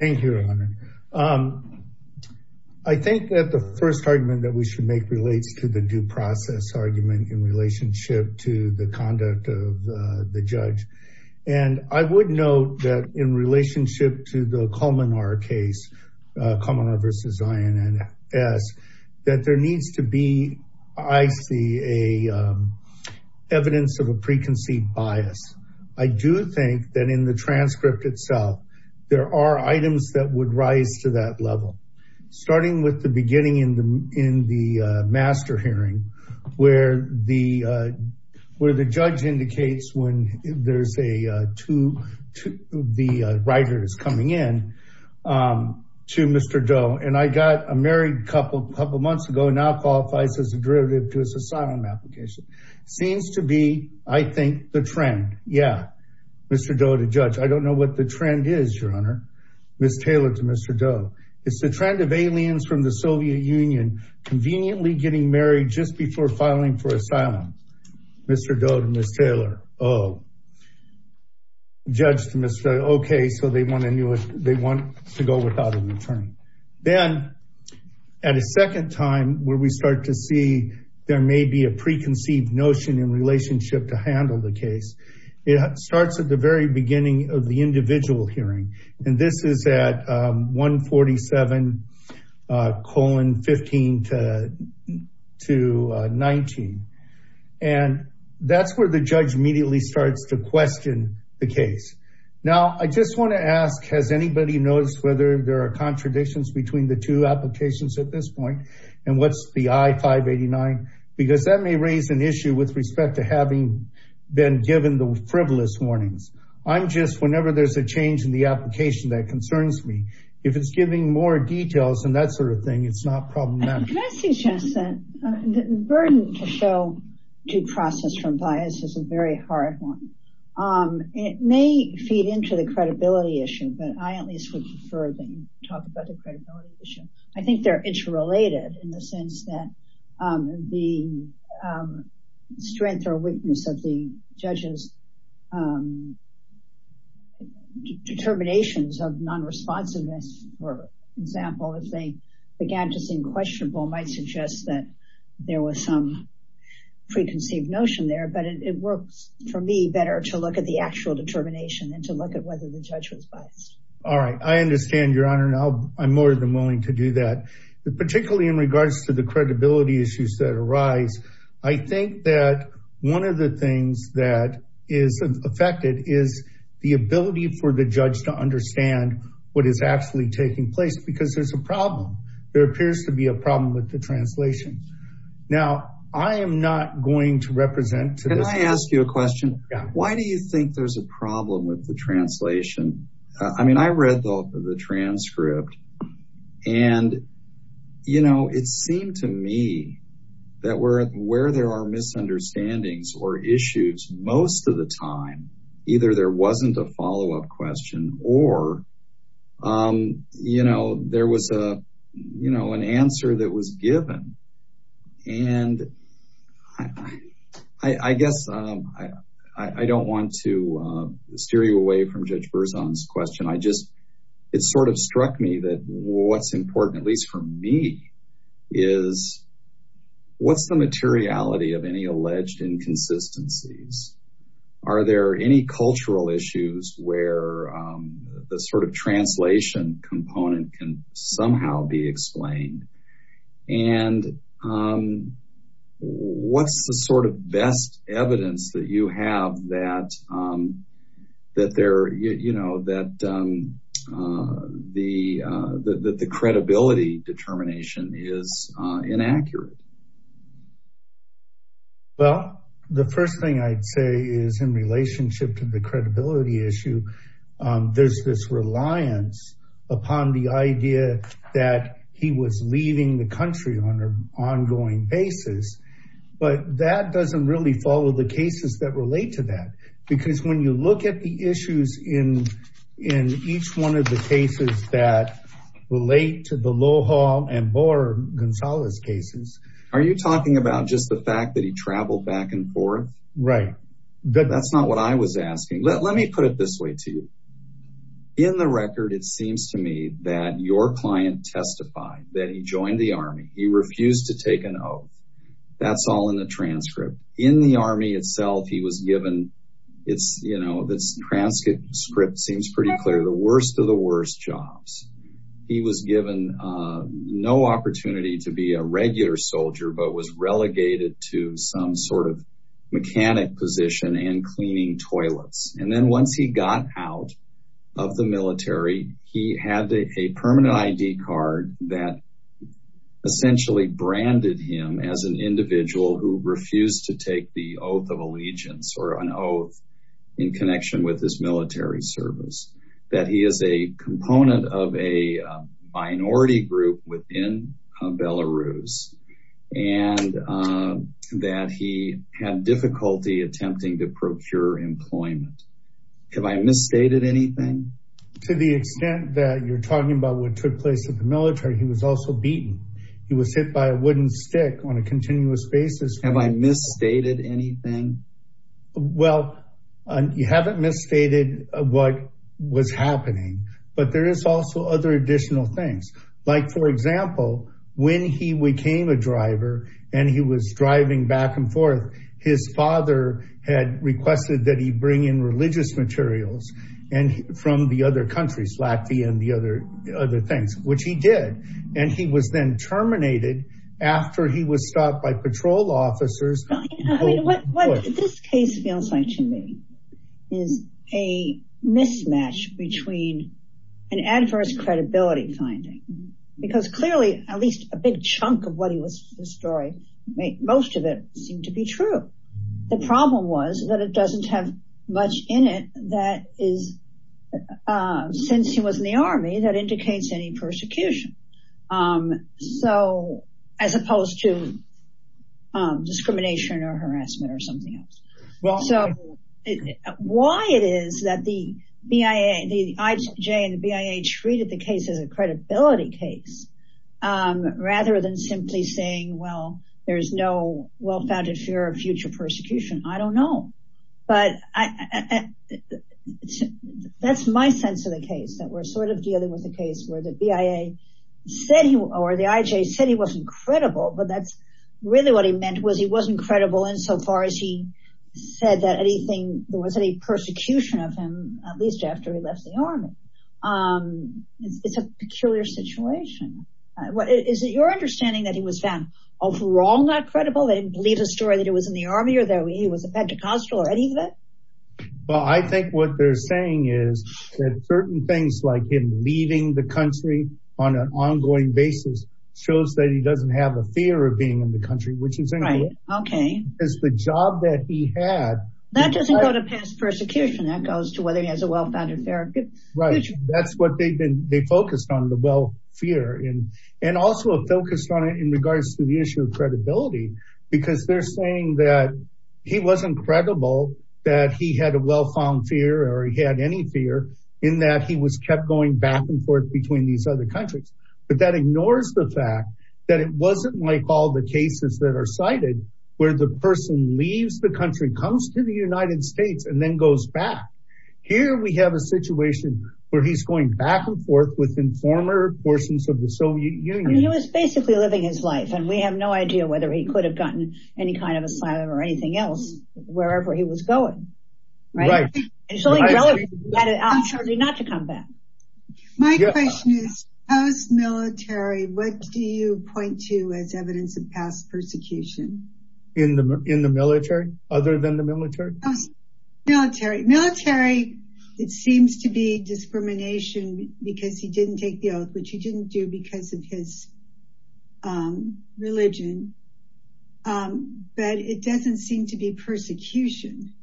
Thank you. I think that the first argument that we should make relates to the due process argument in relationship to the conduct of the judge. And I would note that in relationship to the Cominar case, Cominar v. INS, that there needs to be, I see, evidence of a preconceived bias. I do think that in the transcript itself, there are items that would rise to that level. Starting with the beginning in the master hearing, where the judge indicates when there's a the writer is coming in to Mr. Doe, and I got a married couple months ago, now qualifies as a to his asylum application. Seems to be, I think, the trend. Yeah, Mr. Doe to judge. I don't know what the trend is, Your Honor. Ms. Taylor to Mr. Doe. It's the trend of aliens from the Soviet Union conveniently getting married just before filing for asylum. Mr. Doe to Ms. Taylor. Oh, judge to Mr. Doe. Okay, so they want to go without an attorney. Then at a second time, where we start to see there may be a preconceived notion in relationship to handle the case, it starts at the very beginning of the individual hearing. And this is at 147 colon 15 to 19. And that's where the judge immediately starts to question the case. Now, I just want to ask, has anybody noticed whether there are contradictions between the two applications at this point? And what's the I-589? Because that may raise an issue with respect to having been given the frivolous warnings. I'm just whenever there's a change in the application that concerns me, if it's giving more details and that sort of thing, it's not problematic. I suggest that the burden to show due process from bias is a very hard one. It may feed into the credibility issue, but I at least would prefer that you talk about the credibility issue. I think they're interrelated in the sense that the strength or weakness of the judges' determinations of non-responsiveness, for example, if they began to seem questionable, might suggest that there was some preconceived notion there. But it works for me better to look at the actual determination and to look at whether the judge was biased. All right, I understand, Your Honor, and I'm more than willing to do that. But particularly in regards to the credibility issues that arise, I think that one of the things that is affected is the ability for the judge to understand what is actually taking place because there's a problem. There appears to be a problem with the translation. Now, I am not going to represent to this- Can I ask you a question? Why do you think there's a problem with the translation? I read the transcript, and it seemed to me that where there are misunderstandings or issues most of the time, either there wasn't a follow-up question or there was an answer that didn't. I guess I don't want to steer you away from Judge Berzon's question. It sort of struck me that what's important, at least for me, is what's the materiality of any alleged inconsistencies? Are there any cultural issues where the translation component can somehow be explained? And what's the sort of best evidence that you have that the credibility determination is inaccurate? Well, the first thing I'd say is in relationship to the credibility issue, there's this reliance upon the idea that he was leaving the country on an ongoing basis, but that doesn't really follow the cases that relate to that. Because when you look at the issues in each one of the cases that relate to the Loja and Bora Gonzalez cases- Are you talking about just the fact that he traveled back and forth? Right. That's not what I was asking. Let me put it this way to you. In the record, it seems to me that your client testified that he joined the army. He refused to take an oath. That's all in the transcript. In the army itself, he was given- the transcript seems pretty clear- the worst of the worst jobs. He was given no opportunity to be a regular soldier, but was relegated to some sort of mechanic position and cleaning toilets. And then once he got out of the military, he had a permanent ID card that essentially branded him as an individual who refused to take the oath of allegiance or an oath in connection with his military service. That he is a component of a minority group within Belarus and that he had difficulty attempting to procure employment. Have I misstated anything? To the extent that you're talking about what took place at the military, he was also beaten. He was hit by a wooden stick on a continuous basis. Have I misstated anything? Well, you haven't misstated what was happening, but there is also other additional things. Like for example, when he became a driver and he was driving back and forth, his father had requested that he bring in religious materials from the other countries, Latvia and the other other things, which he did. And he was then terminated after he was stopped by patrol officers. What this case feels like to me is a mismatch between an adverse credibility finding. Because clearly, at least a big chunk of what he was, the story, most of it seemed to be true. The problem was that it doesn't have much in it that is, since he was in the army, that indicates any persecution. As opposed to discrimination or harassment or something else. Why it is that the IJ and the BIA treated the case as a credibility case, rather than simply saying, well, there's no well-founded fear of future persecution. I don't know. But that's my sense of the case, that we're sort of dealing with a case where the BIA or the IJ said he wasn't credible, but that's really what he meant was he wasn't credible in so far as he said that there was any persecution of him, at least after he left the army. It's a peculiar situation. Is it your understanding that he was found overall not credible? They didn't believe the story that he was in the army or that he was a Pentecostal or any of that? Well, I think what they're saying is that certain things like him leaving the country on an ongoing basis, shows that he doesn't have a fear of being in the country, which is the job that he had. That doesn't go to past persecution, that goes to whether he has a well-founded fear of the future. That's what they focused on, the well fear, and also focused on it in regards to the issue of credibility, because they're saying that he wasn't credible, that he had a well-found fear or he had any fear in that he was kept going back and forth between these other countries. But that ignores the fact that it wasn't like all the cases that are cited, where the person leaves the country, comes to the United States and then goes back. Here we have a situation where he's going back and forth within former portions of the Soviet Union. He was basically living his life and we have no idea whether he could have gotten any kind of asylum or anything else, wherever he was going. My question is, post-military, what do you point to as evidence of past persecution? In the military? Other than the military? Military. Military, it seems to be discrimination because he didn't take the oath, which he didn't do because of his religion. But it doesn't seem to be persecution.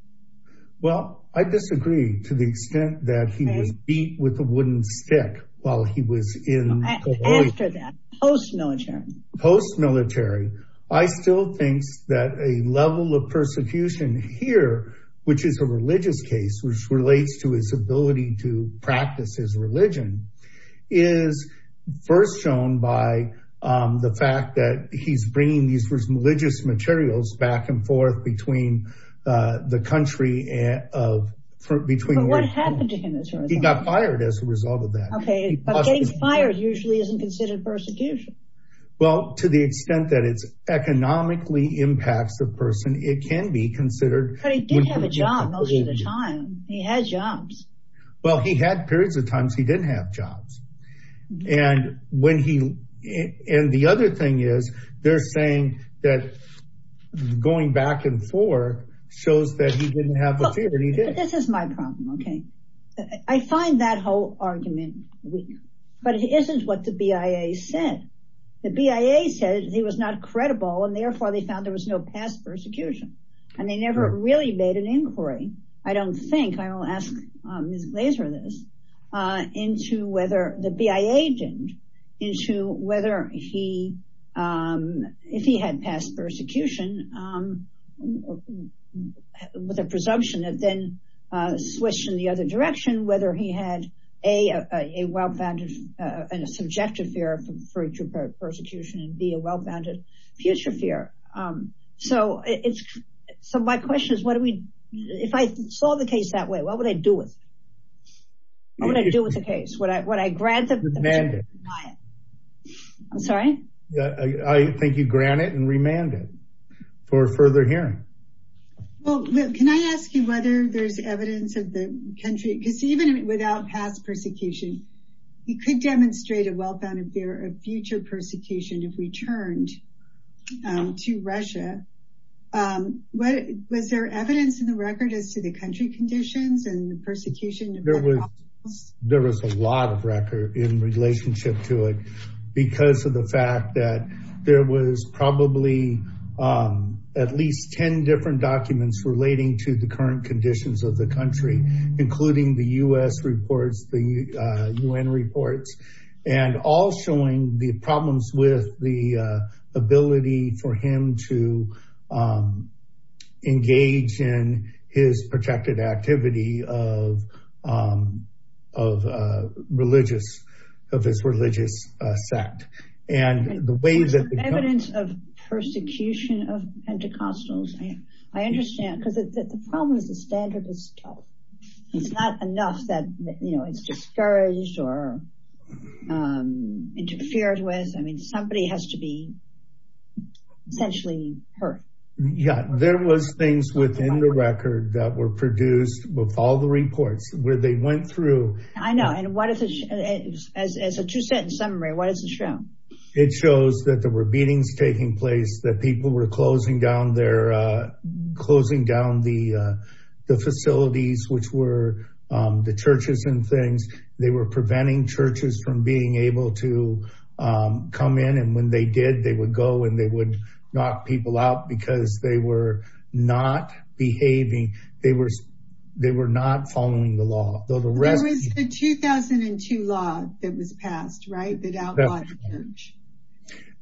Well, I disagree to the extent that he was beat with a wooden stick while he was in... After that, post-military. Post-military, I still think that a level of persecution here, which is a religious case, which relates to his ability to practice his religion, is first shown by the fact that he's bringing these religious materials back and forth between the country and... What happened to him as a result? He got fired as a result of that. Okay, but getting fired usually isn't considered persecution. Well, to the extent that it's economically impacts the person, it can be considered... But he did have a job most of the time. He had jobs. Well, he had periods of times he didn't have jobs. And the other thing is, they're saying that going back and forth shows that he didn't have a fear, and he did. This is my problem, okay? I find that whole argument weak, but it isn't what the BIA said. The BIA said he was not credible, and therefore, they found there was no past persecution. And they never really made an inquiry, I don't think, I will ask Ms. Glazer this, into whether the BIA didn't, into whether he, if he had past persecution, with a presumption that then switched in the other direction, whether he had A, a well-founded and a subjective fear of future persecution, and B, a well-founded future fear. So my question is, if I saw the case that way, what would I do with it? What would I do with the case? Would I grant it? Remand it. I'm sorry? I think you'd grant it and remand it for further hearing. Well, can I ask you whether there's evidence of the country, because even without past persecution, he could demonstrate a well-founded fear of future persecution if returned to Russia. Was there evidence in the record as to the country conditions and the persecution? There was a lot of record in relationship to it, because of the fact that there was probably at least 10 different documents relating to the current conditions of the country, including the U.S. reports, the U.N. reports, and all showing the problems with the ability for him to engage in his protected activity of religious, of his religious sect. The evidence of persecution of Pentecostals, I understand, because the problem is the standard is tough. It's not enough that, you know, it's discouraged or interfered with. I mean, somebody has to be essentially hurt. Yeah, there was things within the record that were produced with all the reports where they went through. I know. And as you said, in summary, what does it show? It shows that there were beatings taking place, that people were closing down their, closing down the facilities, which were the churches and things. They were preventing churches from being able to come in. And when they did, they would go and they would knock people out because they were not behaving. They were not following the law. There was the 2002 law that was passed, right? That outlawed the church.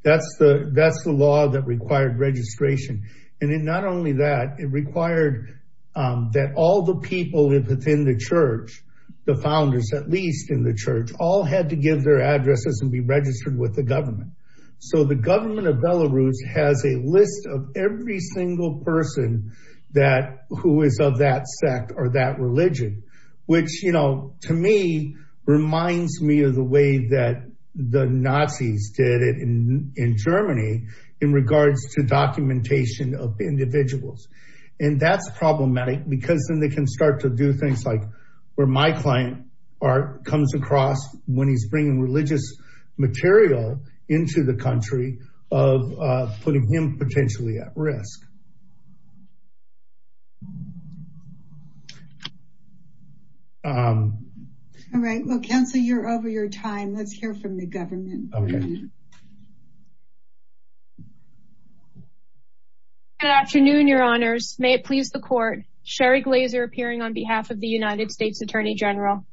That's the law that required registration. And not only that, it required that all the people within the church, the founders, at least in the church, all had to give their addresses and be registered with the government. So the government of Belarus has a list of every to me, reminds me of the way that the Nazis did it in Germany in regards to documentation of individuals. And that's problematic because then they can start to do things like where my client comes across when he's bringing religious material into the country of putting him potentially at risk. All right. Well, Counselor, you're over your time. Let's hear from the government. Okay. Good afternoon, Your Honors. May it please the court. Sherry Glaser appearing on behalf of the United States Attorney General.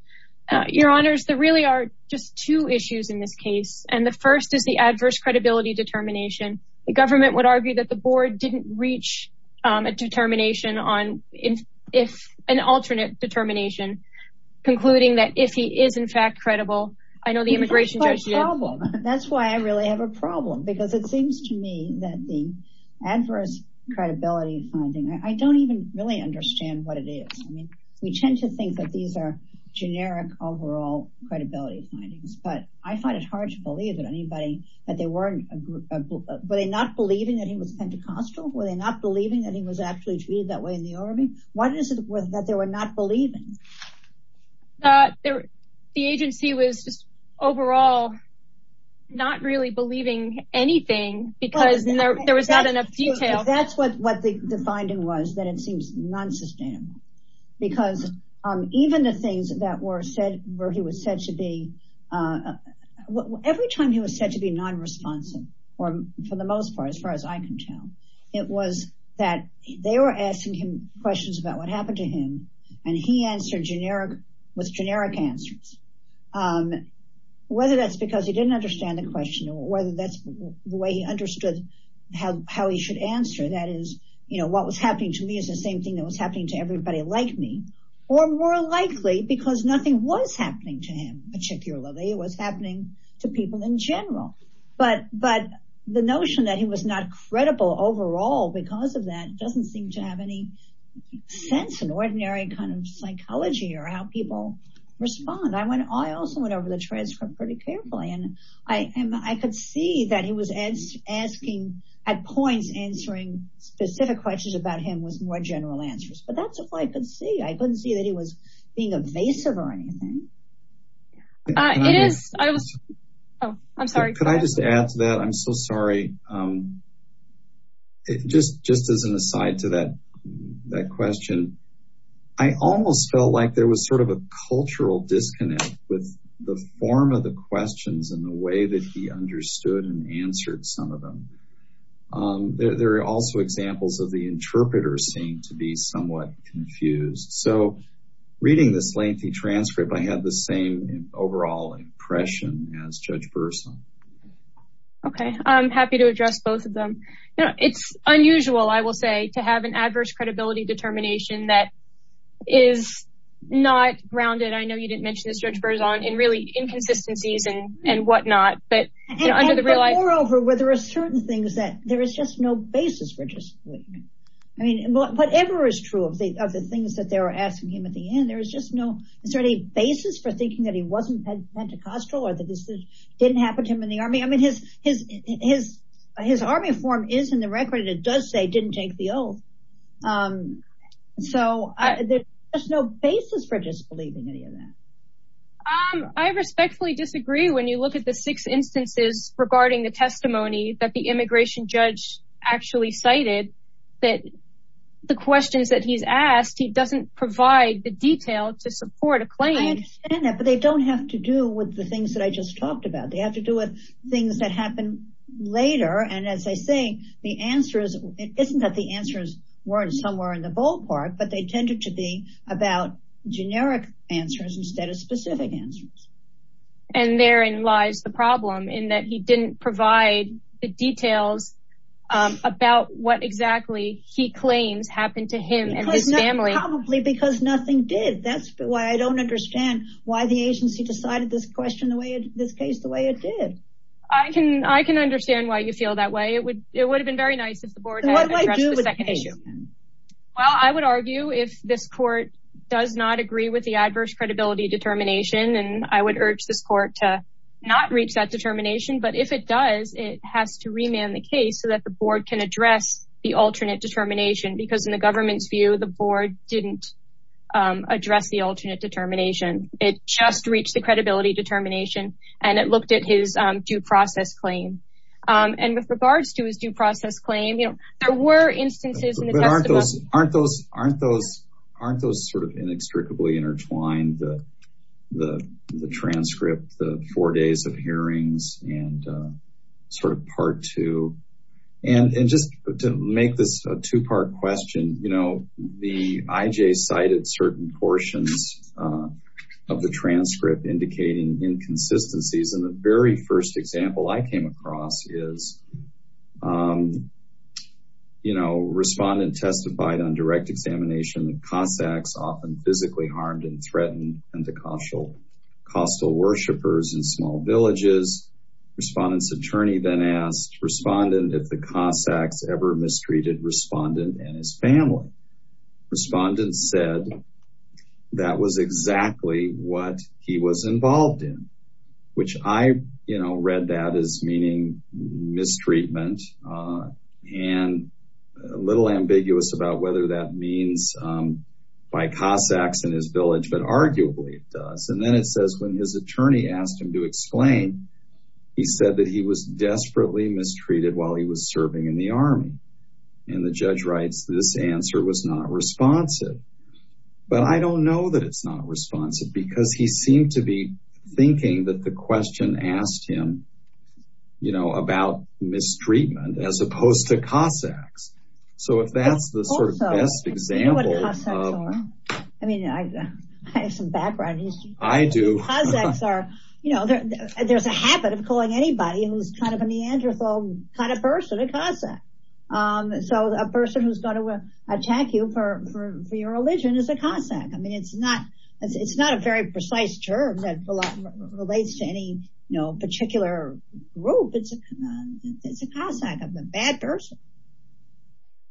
Your Honors, there really are just two issues in this case. And the first is the adverse credibility determination. The government would argue that the board didn't reach a determination on if an alternate determination concluding that if he is in fact credible, I know the immigration judge. That's why I really have a problem because it seems to me that the adverse credibility finding, I don't even really understand what it is. I mean, we tend to think that these are generic overall credibility findings, but I find it hard to believe that anybody that they weren't were they not believing that he was Pentecostal? Were they not believing that he was actually treated that way in the army? What is it that they were not believing? The agency was just overall not really believing anything because there was not enough detail. That's what the finding was that it seems non-sustainable because even the things that for the most part, as far as I can tell, it was that they were asking him questions about what happened to him and he answered with generic answers. Whether that's because he didn't understand the question or whether that's the way he understood how he should answer that is, you know, what was happening to me is the same thing that was happening to everybody like me, or more likely because nothing was happening to him particularly. It was happening to people in the notion that he was not credible overall because of that doesn't seem to have any sense in ordinary kind of psychology or how people respond. I also went over the transcript pretty carefully and I could see that he was asking at points answering specific questions about him with more general answers, but that's if I could see. I couldn't see that he was being evasive or anything. Could I just add to that? I'm so sorry. Just as an aside to that question, I almost felt like there was sort of a cultural disconnect with the form of the questions and the way that he understood and answered some of them. There are also examples of the interpreters seem to be somewhat confused. So, reading this lengthy transcript, I had the same overall impression as Judge Burson. Okay. I'm happy to address both of them. It's unusual, I will say, to have an adverse credibility determination that is not grounded. I know you didn't mention this, Judge Burson, in really inconsistencies and whatnot. Moreover, there are certain things that there is just no basis for disbelief. I mean, whatever is true of the things that they were asking him at the end, is there any basis for thinking that he wasn't Pentecostal or that this didn't happen to him in the army? I mean, his army form is in the record and it does say didn't take the oath. So, there's no basis for disbelieving any of that. I respectfully disagree when you look at the six instances regarding the testimony that the immigration judge actually cited, that the questions that he's asked, he doesn't provide the detail to support a claim. I understand that, but they don't have to do with the things that I just talked about. They have to do with things that happen later. And as I say, the answers, it isn't that the answers weren't somewhere in the ballpark, but they tended to be about generic answers instead of specific answers. And therein lies the problem in that he didn't provide the details about what exactly he claims happened to him and his family. Probably because nothing did. That's why I don't understand why the agency decided this question, this case, the way it did. I can understand why you feel that way. It would have been very nice if the board had addressed the second issue. Well, I would argue if this court does not agree with the adverse credibility determination, and I would urge this court to not reach that determination, but if it does, it has to remand the case so that the board can address the alternate determination. Because in the government's view, the board didn't address the alternate determination. It just reached the credibility determination and it looked at his due process claim. And with regards to his due process claim, you know, there were instances in the testimony. Aren't those sort of inextricably intertwined, the transcript, the four days of hearings, and sort of part two? And just to make this a two-part question, you know, the IJ cited certain portions of the transcript indicating inconsistencies. And the very first example I came across is, you know, respondent testified on direct examination that Cossacks often physically harmed and threatened and the coastal worshippers in small villages. Respondent's attorney then asked respondent if the Cossacks ever mistreated respondent and his family. Respondent said, that was exactly what he was involved in, which I, you know, read that as meaning mistreatment and a little ambiguous about whether that means by Cossacks in his village, but arguably it does. And then it says when his attorney asked him to explain, he said that he was desperately mistreated while he was serving in the army. And the judge writes, this answer was not responsive. But I don't know that it's not responsive because he seemed to be thinking that the question asked him, you know, about mistreatment as opposed to Cossacks. So if that's the sort of best example. You know what Cossacks are? I mean, I have some background in history. I do. Cossacks are, you know, there's a habit of calling anybody who's kind of a Neanderthal kind of person a Cossack. So a person who's going to attack you for your religion is a Cossack. I mean, it's not, it's not a very precise term that relates to any, you know, particular group. It's a Cossack, a bad person.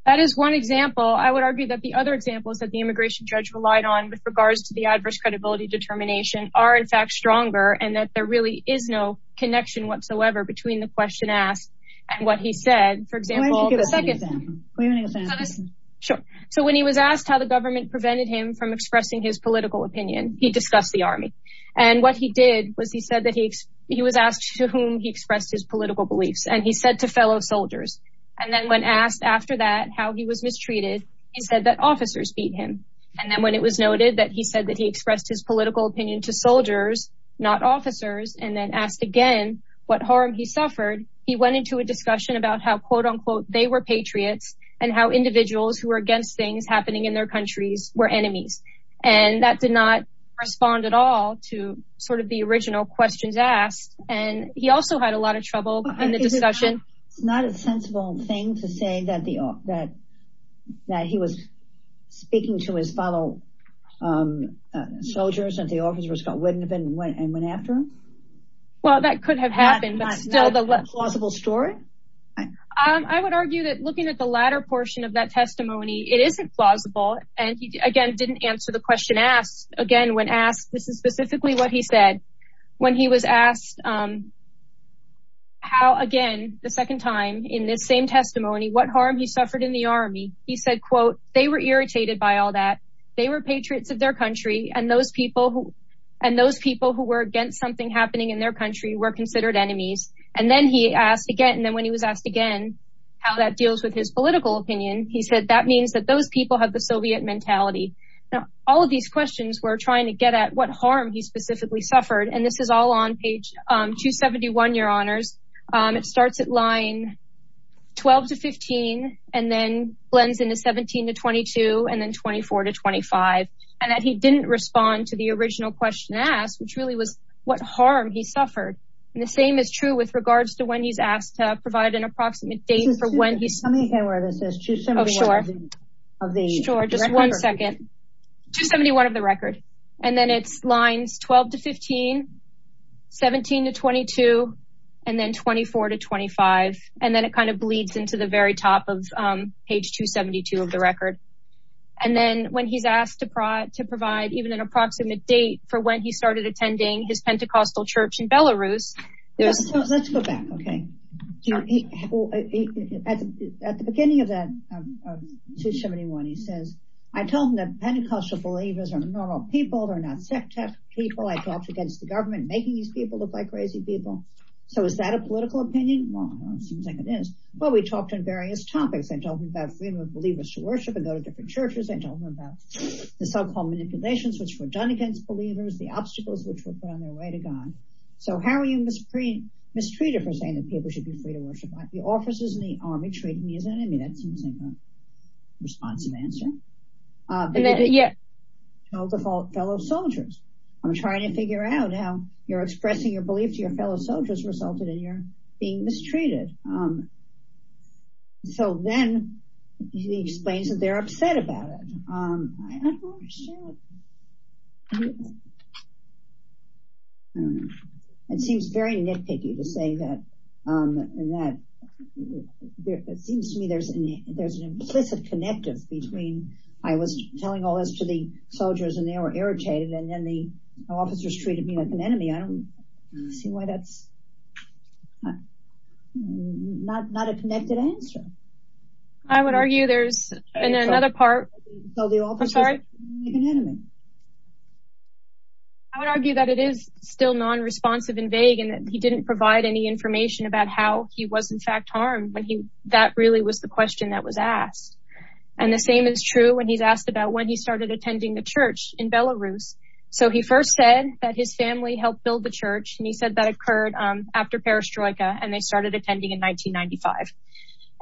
That is one example. I would argue that the other examples that the immigration judge relied on with regards to the adverse credibility determination are in fact stronger and that there really is no connection whatsoever between the question asked and what he said. For example, the second example. Sure. So when he was asked how the government prevented him from expressing his political opinion, he discussed the army. And what he did was he said that he was asked to whom he expressed his political beliefs. And he said to fellow soldiers. And then when asked after that, how he was mistreated, he said that officers beat him. And then when it was noted that he said that expressed his political opinion to soldiers, not officers, and then asked again, what harm he suffered, he went into a discussion about how quote unquote, they were patriots, and how individuals who were against things happening in their countries were enemies. And that did not respond at all to sort of the original questions asked. And he also had a lot of trouble in the discussion. It's not a sensible thing to say that the that that he was speaking to his fellow soldiers and the officer Scott wouldn't have been went and went after him. Well, that could have happened, but still the less plausible story. I would argue that looking at the latter portion of that testimony, it isn't plausible. And he again, didn't answer the question asked again, when asked, this is specifically what he said, when he was asked how again, the second time in this same testimony, what harm he suffered in the army, he said, quote, they were irritated by all that they were patriots of their country, and those people who, and those people who were against something happening in their country were considered enemies. And then he asked again, and then when he was asked again, how that deals with his political opinion, he said that means that those people have the Soviet mentality. Now, these questions were trying to get at what harm he specifically suffered. And this is all on page 271. Your honors, it starts at line 12 to 15, and then blends into 17 to 22, and then 24 to 25. And that he didn't respond to the original question asked, which really was what harm he suffered. And the same is true with regards to when he's asked to provide an approximate date for when he's sure, just one second, 271 of the record, and then it's lines 12 to 15, 17 to 22, and then 24 to 25. And then it kind of bleeds into the very top of page 272 of the record. And then when he's asked to provide to provide even an approximate date for when he at the beginning of that, he says, I told him that Pentecostal believers are normal people, they're not sectarian people. I talked against the government making these people look like crazy people. So is that a political opinion? Well, it seems like it is. But we talked on various topics and talking about freedom of believers to worship and go to different churches and talking about the so called manipulations which were done against believers, the obstacles which were put on their way to God. So how are you mistreated for saying that people should be free to worship? The officers in the army treated me as an enemy. That seems like a responsive answer. And then yeah, no default fellow soldiers. I'm trying to figure out how you're expressing your belief to your fellow soldiers resulted in your being mistreated. So then he explains that they're different. It seems to me there's an implicit connective between I was telling all this to the soldiers and they were irritated and then the officers treated me like an enemy. I don't see why that's not a connected answer. I would argue there's another part. I would argue that it is still non responsive and vague and he didn't provide any information about how he was in fact harmed when he that really was the question that was asked. And the same is true when he's asked about when he started attending the church in Belarus. So he first said that his family helped build the church and he said that occurred after perestroika and they started attending in 1995.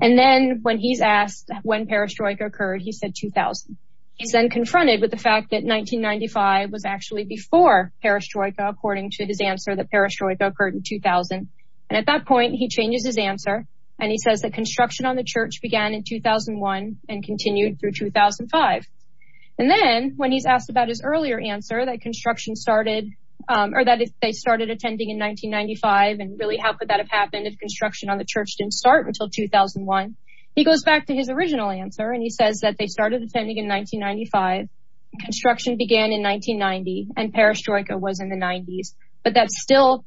And then when he's asked when perestroika occurred, he said 2000. He's then confronted with the fact that 1995 was actually before perestroika according to his answer that perestroika occurred in 2000. And at that point he changes his answer and he says that construction on the church began in 2001 and continued through 2005. And then when he's asked about his earlier answer that construction started or that they started attending in 1995 and really how could that have happened if construction on the church didn't start until 2001. He goes back to his original answer and he says that they started attending in 1995. Construction began in 1990 and perestroika was in the 90s. But that still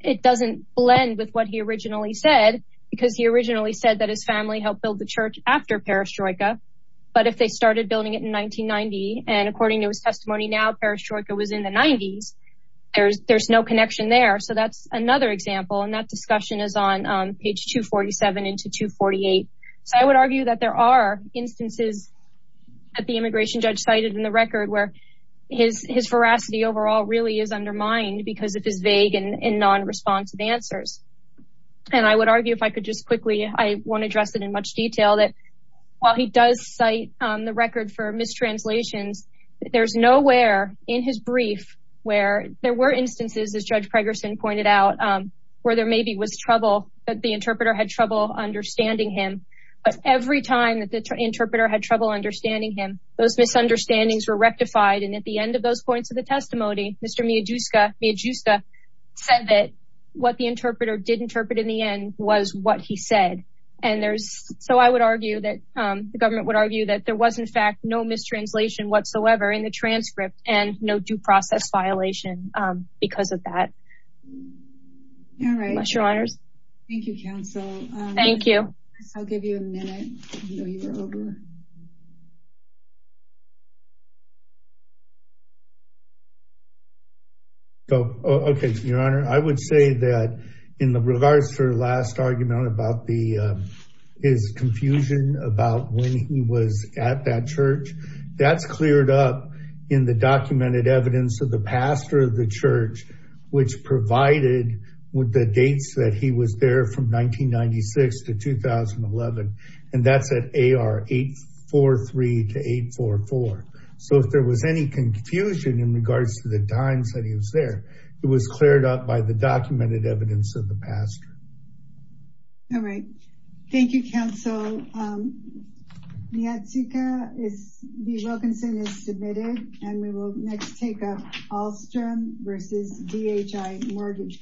it doesn't blend with what he originally said because he originally said that his family helped build the church after perestroika. But if they started building it in 1990 and according to his testimony now perestroika was in the 90s. There's no connection there. So that's another example and discussion is on page 247 into 248. So I would argue that there are instances that the immigration judge cited in the record where his veracity overall really is undermined because of his vague and non-responsive answers. And I would argue if I could just quickly I won't address it in much detail that while he does cite the record for mistranslations there's nowhere in his brief where there were instances as Judge Pregerson pointed out where there maybe was trouble that the interpreter had trouble understanding him. But every time that the interpreter had trouble understanding him those misunderstandings were rectified and at the end of those points of the testimony Mr. Majuska said that what the interpreter did interpret in the end was what he said. And there's so I would argue that the government would argue that there was in fact no mistranslation whatsoever in the transcript and no due process violation because of that. All right your honors. Thank you counsel. Thank you. I'll give you a minute. So okay your honor I would say that in regards to her last argument about the his confusion about when he was at that church that's cleared up in the documented evidence of the pastor of the church which provided with the dates that he was there from 1996 to 2011 and that's at AR 843 to 844. So if there was any confusion in regards to the times that he was there it was cleared up by the documented evidence of the pastor. All right thank you counsel. Niyatsuka B. Wilkinson is submitted and we will next take up Ahlstrom versus DHI Mortgage Company.